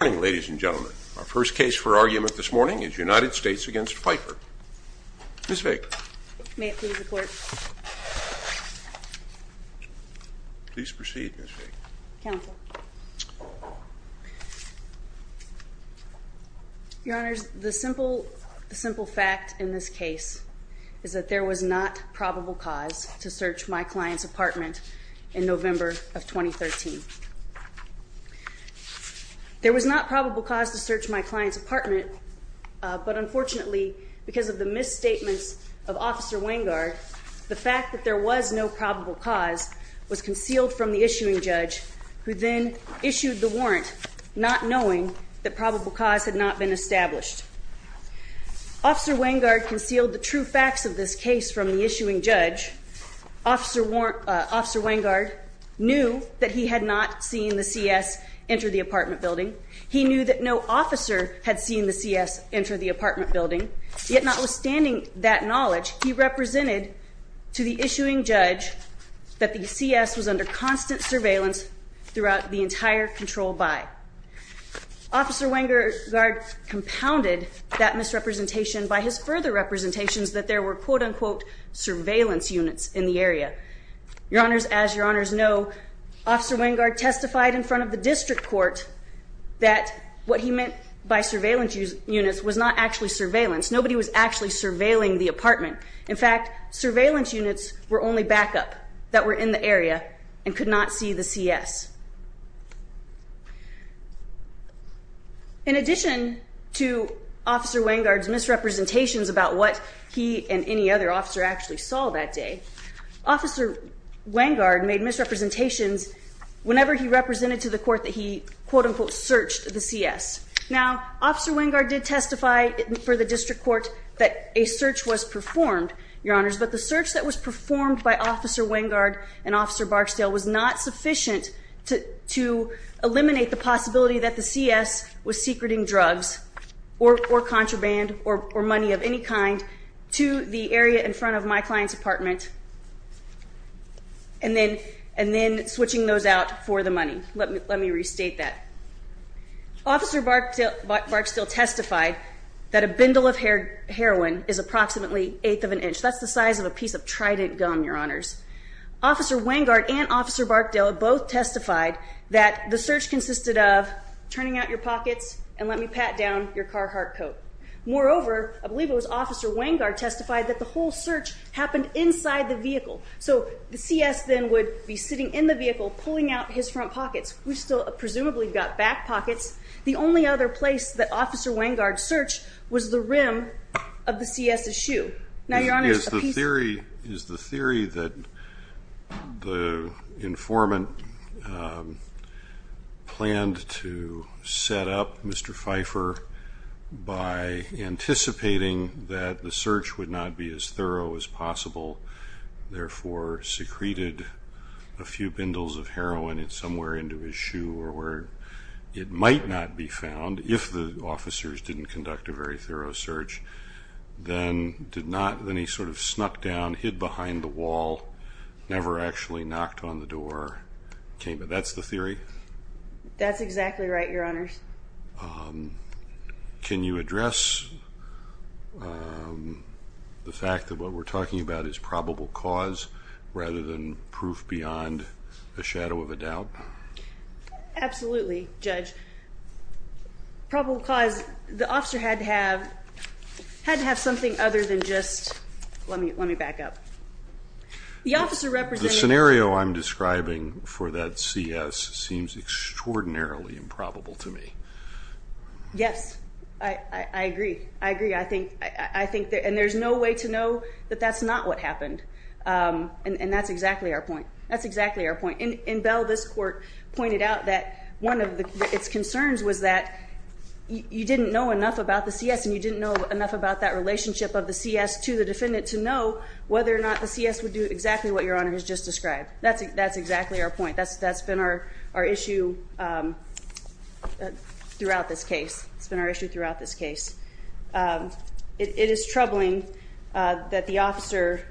Ladies and gentlemen, our first case for argument this morning is United States v. Pfeiffer. Ms. Vick. May it please the Court. Please proceed, Ms. Vick. Counsel. Your Honors, the simple fact in this case is that there was not probable cause to search my client's apartment in November of 2013. There was not probable cause to search my client's apartment, but unfortunately, because of the misstatements of Officer Wengard, the fact that there was no probable cause was concealed from the issuing judge, who then issued the warrant, not knowing that probable cause had not been established. Officer Wengard concealed the true facts of this case from the issuing judge. Officer Wengard knew that he had not seen the C.S. enter the apartment building. He knew that no officer had seen the C.S. enter the apartment building, yet notwithstanding that knowledge, he represented to the issuing judge that the C.S. was under constant surveillance throughout the entire district controlled by. Officer Wengard compounded that misrepresentation by his further representations that there were quote-unquote surveillance units in the area. Your Honors, as your Honors know, Officer Wengard testified in front of the district court that what he meant by surveillance units was not actually surveillance. Nobody was actually surveilling the apartment. In fact, surveillance units were only backup that were in the area and could not see the C.S. In addition to Officer Wengard's misrepresentations about what he and any other officer actually saw that day, Officer Wengard made misrepresentations whenever he represented to the court that he quote-unquote searched the C.S. Now, Officer Wengard did testify for the district court that a search was performed, Your Honors, but the search that was performed by Officer Wengard and Officer Barksdale was not sufficient to eliminate the possibility that the C.S. was secreting drugs or contraband or money of any kind to the area in front of my client's apartment and then switching those out for the money. Let me restate that. Officer Barksdale testified that a bundle of heroin is approximately eighth of an inch. That's the size of a piece of Trident gum, Your Honors. Officer Wengard and Officer Barksdale both testified that the search consisted of turning out your pockets and let me pat down your Carhartt coat. Moreover, I believe it was Officer Wengard testified that the whole search happened inside the vehicle. So the C.S. then would be sitting in the vehicle pulling out his front pockets. We've still presumably got back pockets. The only other place that Officer Wengard searched was the rim of the C.S.'s shoe. Now, Your Honor, is the theory that the informant planned to set up Mr. Pfeiffer by anticipating that the search would not be as thorough as possible, therefore secreted a few bindles of heroin somewhere into his shoe or where it might not be found, if the officers didn't conduct a very thorough search, then he sort of snuck down, hid behind the wall, never actually knocked on the door? That's the theory? That's exactly right, Your Honors. Can you address the fact that what we're talking about is probable cause rather than proof beyond a shadow of a doubt? Absolutely, Judge. Probable cause, the officer had to have something other than just let me back up. The officer represented... The scenario I'm Yes, I agree. I agree. I think there's no way to know that that's not what happened. And that's exactly our point. That's exactly our point. In Bell, this court pointed out that one of its concerns was that you didn't know enough about the C.S. and you didn't know enough about that relationship of the C.S. to the defendant to know whether or not the C.S. would do exactly what Your Honor has just described. That's exactly our point. That's been our issue throughout this case. It's been our issue throughout this case. It is troubling that the officer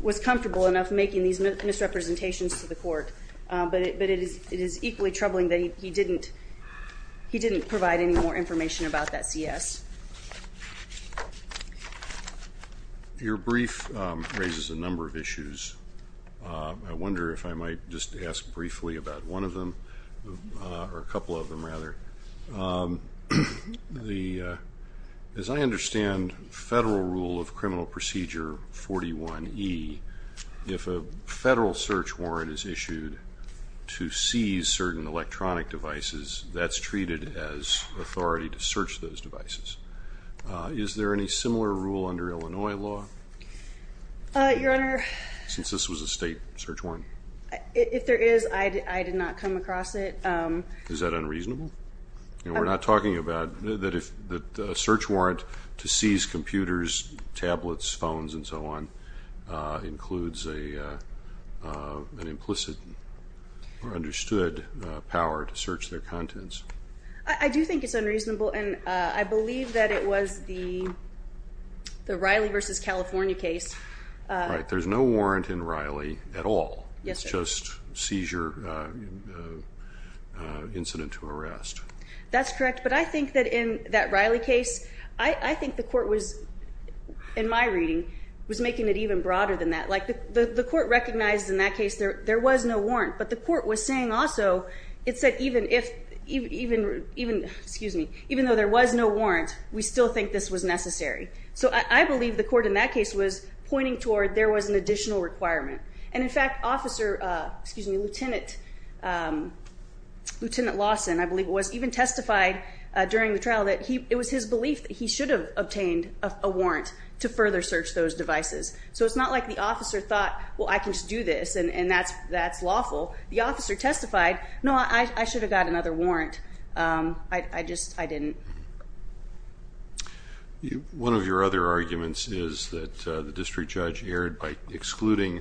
was comfortable enough making these misrepresentations to the court, but it is equally troubling that he didn't provide any more information about that C.S. Your brief raises a number of issues. I wonder if I might just ask briefly about one of them or a couple of them rather. As I understand federal rule of criminal procedure 41E, if a federal search warrant is issued to seize certain devices, is there any similar rule under Illinois law since this was a state search warrant? If there is, I did not come across it. Is that unreasonable? We're not talking about that if a search warrant to seize computers, tablets, phones, and so on includes an implicit or understood power to search their contents. I do think it's unreasonable, and I believe that it was the Riley v. California case. There's no warrant in Riley at all. It's just seizure incident to arrest. That's correct, but I think that in that Riley case, I think the court was, in my reading, was making it even broader than that. The court recognized in that case there was no warrant, but the court was saying also it said even though there was no warrant, we still think this was necessary. I believe the court in that case was pointing toward there was an additional requirement. In fact, Lieutenant Lawson, I believe it was, even testified during the trial that it was his belief he should have obtained a warrant to further search those devices. So it's not like the officer thought, well, I can just do this, and that's lawful. The officer testified, no, I should have got another warrant. I just didn't. One of your other arguments is that the district judge erred by excluding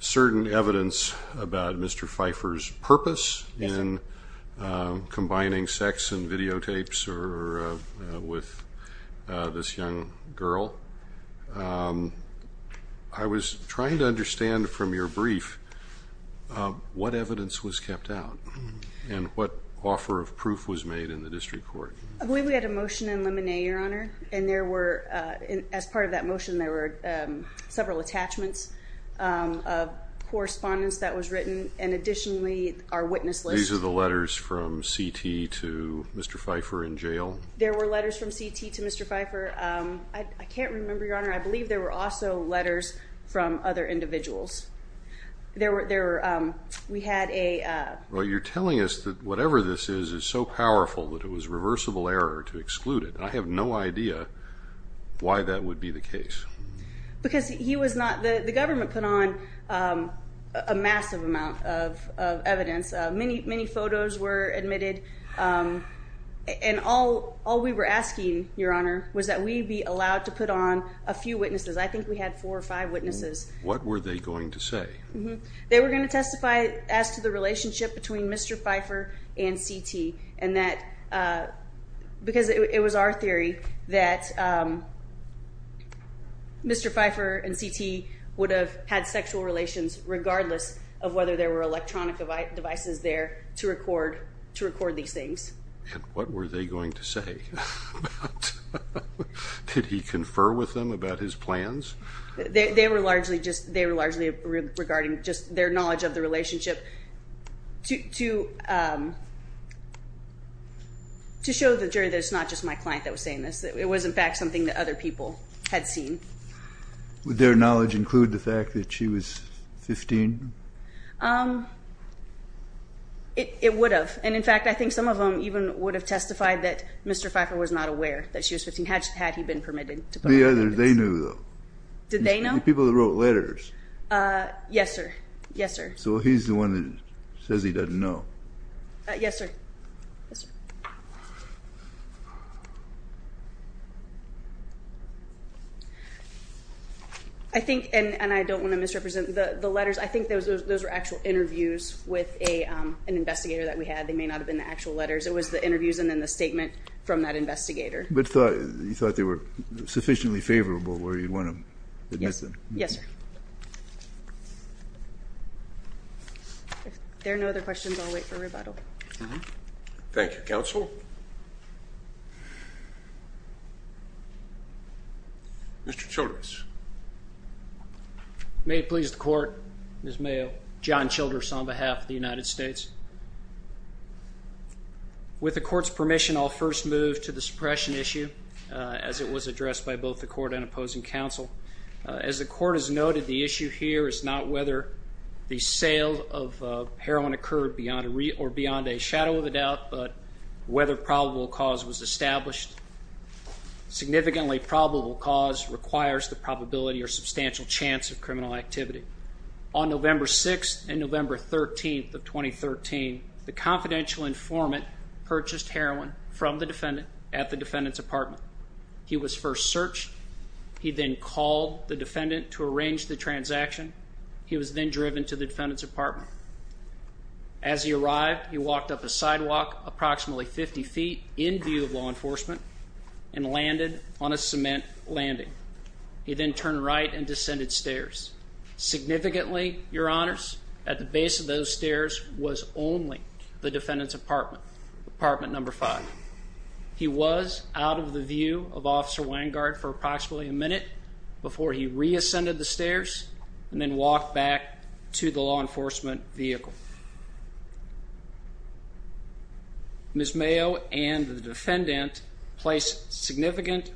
certain evidence about Mr. Pfeiffer's purpose in combining sex and videotapes with this young girl. I was trying to understand from your brief what evidence was kept out and what offer of proof was made in the district court. I believe we had a motion in Lemonnier, Your Honor, and as part of that motion there were several attachments of correspondence that was written and additionally our witness list. These are the letters from C.T. to Mr. Pfeiffer in jail? There were letters from C.T. to Mr. Pfeiffer. I can't remember, Your Honor. I believe there were also letters from other individuals. We had a... Well, you're telling us that whatever this is is so powerful that it was reversible error to exclude it. I have no idea why that would be the case. Because he was not... The government put on a massive amount of evidence. Many photos were admitted and all we were asking, Your Honor, was that we be allowed to put on a few witnesses. I think we had four or five witnesses. What were they going to say? They were going to testify as to the relationship between Mr. Pfeiffer and C.T. because it was our theory that Mr. Pfeiffer and C.T. would have had sexual relations regardless of whether there were electronic devices there to record these things. What were they going to say? Did he confer with them about his plans? They were largely regarding just their knowledge of the relationship to show the jury that it's not just my client that was saying this. It was, in fact, something that other people had seen. Would their knowledge include the fact that she was 15? It would have. And, in fact, I think some of them even would have testified that Mr. Pfeiffer was not aware that she was 15 had he been permitted to put on a witness. The others, they knew, though. Did they know? The people that wrote letters. Yes, sir. Yes, sir. So he's the one that says he doesn't know. Yes, sir. I think, and I don't want to misrepresent the letters, I think those were actual interviews with an investigator that we had. They may not have been the actual letters. It was the interviews and then the statement from that investigator. You thought they were sufficiently favorable where you'd want to admit them? Yes, sir. If there are no other questions, I'll wait for rebuttal. Thank you, Counsel. Mr. Childress. May it please the Court, Ms. Mayo. John Childress on behalf of the United States. With the Court's permission, I'll first move to the suppression issue as it was addressed by both the Court and opposing Counsel. As the Court has noted, the issue here is not whether the sale of heroin occurred beyond a shadow of a doubt, but whether probable cause was established. Significantly probable cause requires the probability or substantial chance of criminal activity. On November 6th and November 13th of 2013, the confidential informant purchased heroin from the defendant at the defendant's apartment. He was first searched. He then called the defendant to arrange the transaction. He was then driven to the defendant's apartment. As he arrived, he walked up a sidewalk approximately 50 feet in view of law enforcement and landed on a cement landing. He then turned right and descended stairs. Significantly, Your Honors, at the base of those stairs was only the defendant's apartment, apartment number 5. He was out of the view of Officer Wangard for approximately a minute before he re-ascended the stairs and then walked back to the law enforcement vehicle. Ms. Mayo and the defendant placed significant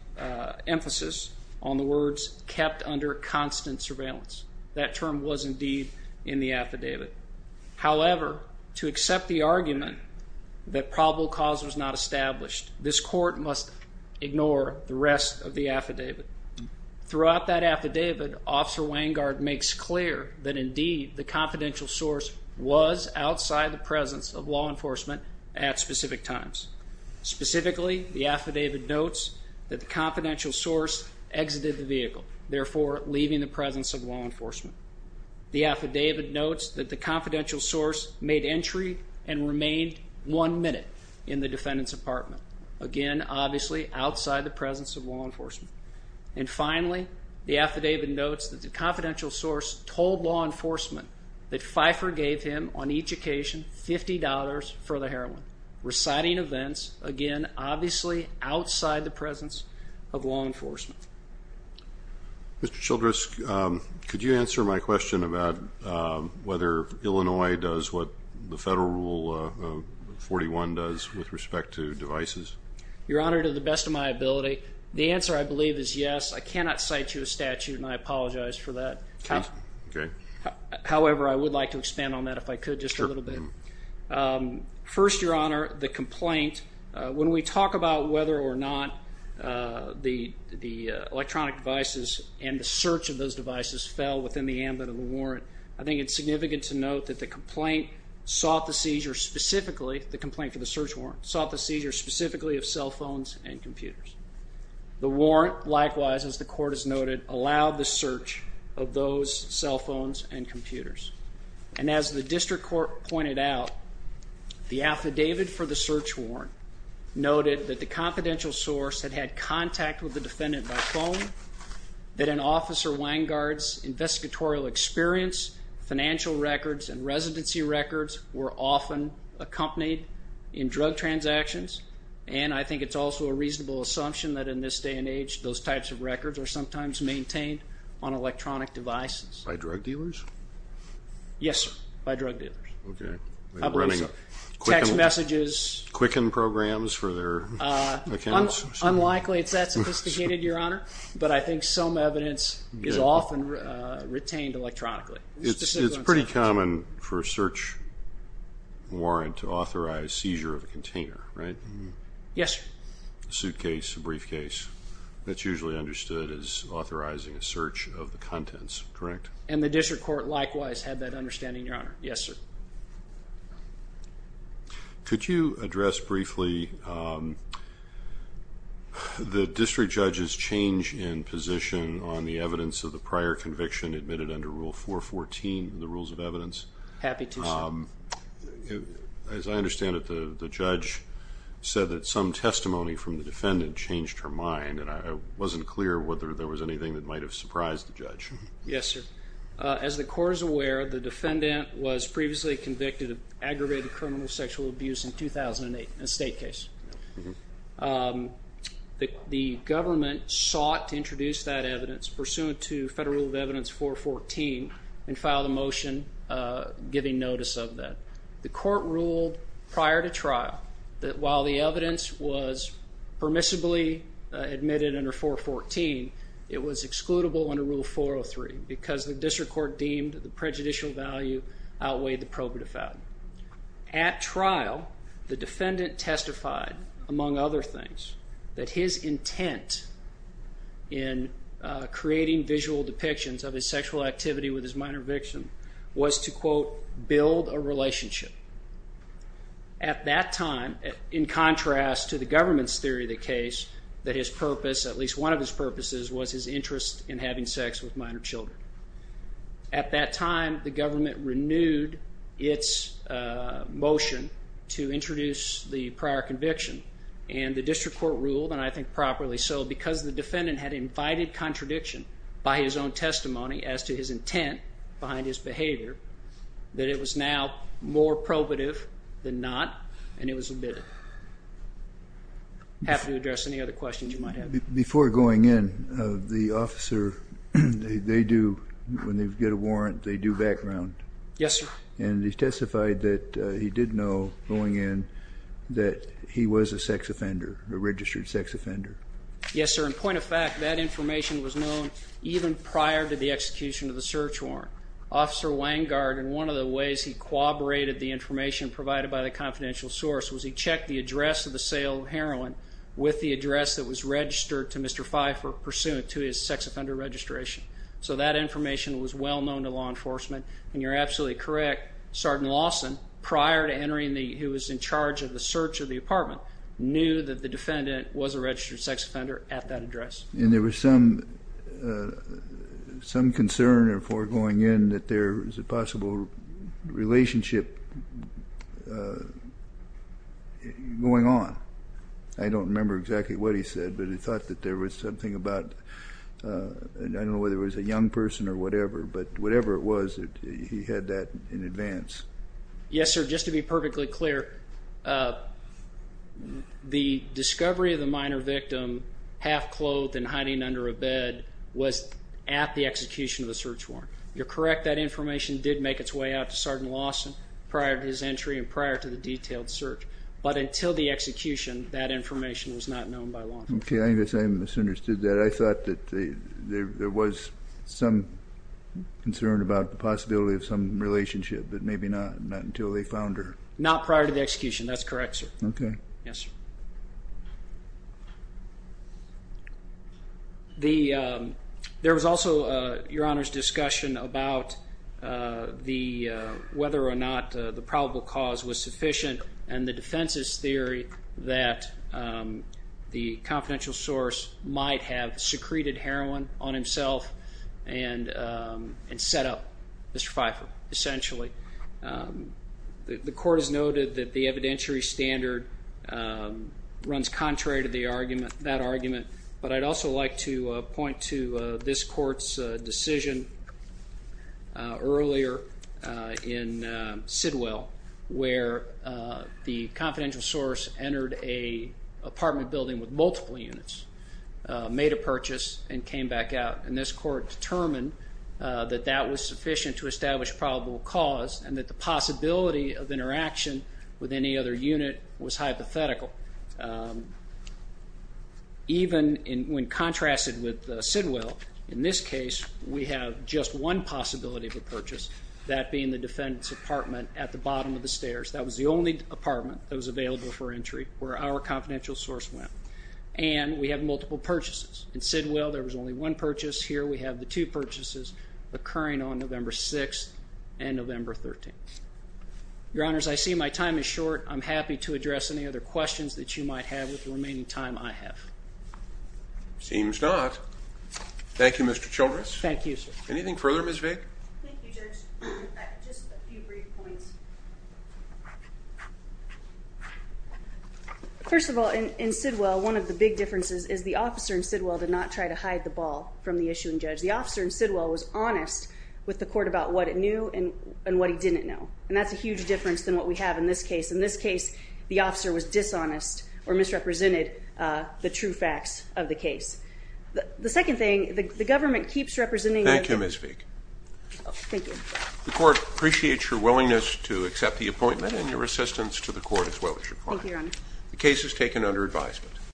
emphasis on the words kept under constant surveillance. That term was indeed in the affidavit. However, to accept the argument that probable cause was not established, this court must ignore the rest of the affidavit. Throughout that affidavit, Officer Wangard makes clear that indeed the confidential source was outside the presence of law enforcement at specific times. Specifically, the affidavit notes that the confidential source exited the vehicle, therefore leaving the presence of law enforcement. The affidavit notes that the confidential source made entry and remained one minute in the defendant's apartment. Again, obviously outside the presence of law enforcement. And finally, the affidavit notes that the confidential source told law enforcement that Pfeiffer gave him on each occasion $50 for the heroin, reciting events, again obviously outside the presence of law enforcement. Mr. Childress, could you answer my question about whether Illinois does what the Federal Rule 41 does with respect to devices? Your Honor, to the best of my ability, the answer I believe is yes. I cannot cite you a statute and I apologize for that. However, I would like to expand on that if I could just a little bit. First, Your Honor, the electronic devices and the search of those devices fell within the ambit of the warrant. I think it's significant to note that the complaint sought the seizure specifically, the complaint for the search warrant, sought the seizure specifically of cell phones and computers. The warrant likewise, as the Court has noted, allowed the search of those cell phones and computers. And as the District Court pointed out, the affidavit for the search warrant noted that the confidential source had had contact with the defendant by phone, that an officer's Wangard's investigatory experience, financial records and residency records were often accompanied in drug transactions. And I think it's also a reasonable assumption that in this day and age, those types of records are sometimes maintained on electronic devices. By drug dealers? Yes, sir. By drug dealers. Text messages? Quicken programs for their accounts? Unlikely it's that sophisticated, Your Honor, but I think some evidence is often retained electronically. It's pretty common for a search warrant to authorize seizure of a container, right? Yes, sir. A suitcase, a briefcase. That's usually understood as authorizing a search of the contents, correct? And the District Court likewise had that understanding, Your Honor. Yes, sir. Could you address briefly the District Judge's change in position on the evidence of the prior conviction admitted under Rule 414 of the Rules of Evidence? Happy to, sir. As I understand it, the judge said that some testimony from the defendant changed her mind, and I wasn't clear whether there was anything that might have surprised the judge. Yes, sir. As the Court is aware, the defendant was previously convicted of aggravated criminal sexual abuse in a 2008 estate case. The government sought to introduce that evidence pursuant to that. The Court ruled prior to trial that while the evidence was permissibly admitted under 414, it was excludable under Rule 403 because the District Court deemed the prejudicial value outweighed the probative value. At trial, the defendant testified, among other things, that his intent in creating visual depictions of his sexual activity with his minor victim was to build a relationship. At that time, in contrast to the government's theory of the case, that his purpose, at least one of his purposes, was his interest in having sex with minor children. At that time, the government renewed its motion to introduce the prior conviction, and the District Court ruled, and I think properly so, because the defendant had invited contradiction by his own testimony as to his intent behind his behavior, that it was now more probative than not, and it was admitted. Before going in, the officer, when they get a warrant, they do background. Yes, sir. And he testified that he did know, going in, that he was a sex offender, a registered sex offender. Yes, sir. In point of fact, that information was known even prior to the execution of the search warrant. Officer Wangard, in one of the ways he corroborated the information provided by the confidential source, was he checked the address of the sale of heroin with the address that was registered to Mr. Pfeiffer pursuant to his sex offender registration. So that information was well known to law enforcement, and you're absolutely correct, Sergeant Lawson, prior to entering, who was in charge of the search of the apartment, knew that the defendant was a registered sex offender at that address. And there was some concern before going in that there was a possible relationship going on. I don't remember exactly what he said, but he thought that there was something about, I don't know whether it was a young person or whatever, but whatever it was, he had that in advance. Yes, sir. Just to be perfectly clear, the discovery of the minor victim half clothed and hiding under a bed was at the execution of the search warrant. You're correct. That information did make its way out to Sergeant Lawson prior to his entry and prior to the detailed search. But until the execution, that information was not known by law enforcement. Okay, I guess I misunderstood that. I thought that there was some concern about the possibility of some relationship, but maybe not until they found her. Not prior to the execution. That's correct, sir. Okay. Yes, sir. There was also, Your Honor's discussion about whether or not the probable cause was sufficient and the defense's theory that the confidential source might have secreted heroin on himself and set up Mr. Pfeiffer, essentially. The Court has noted that the evidentiary standard runs contrary to that argument, but I'd also like to point to this Court's decision earlier in Sidwell where the confidential source entered an apartment building with multiple units, made a purchase, and came back out. And this Court determined that that was sufficient to establish probable cause and that the possibility of interaction with any other unit was hypothetical. Even when contrasted with Sidwell, in this case, we have just one possibility of a purchase, that being the defendant's apartment at the bottom of the stairs. That was the only apartment that was available for entry where our confidential source went. And we have multiple purchases. In Sidwell, there was only one purchase. Here we have the two purchases occurring on the first floor of Sidwell. I'm happy to address any other questions that you might have with the remaining time I have. Seems not. Thank you, Mr. Childress. Thank you, sir. Anything further, Ms. Vick? Thank you, Judge. Just a few brief points. First of all, in Sidwell, one of the big differences is the officer in Sidwell did not try to hide the ball from the issuing judge. The officer in Sidwell was honest with the Court about what it knew and what he didn't know. And that's a huge difference than what we have in this case. In this case, the officer was dishonest or misrepresented the true facts of the case. The second thing, the government keeps representing Thank you, Ms. Vick. The Court appreciates your willingness to accept the appointment and your assistance to the Court as well as your client. The case is taken under advisement.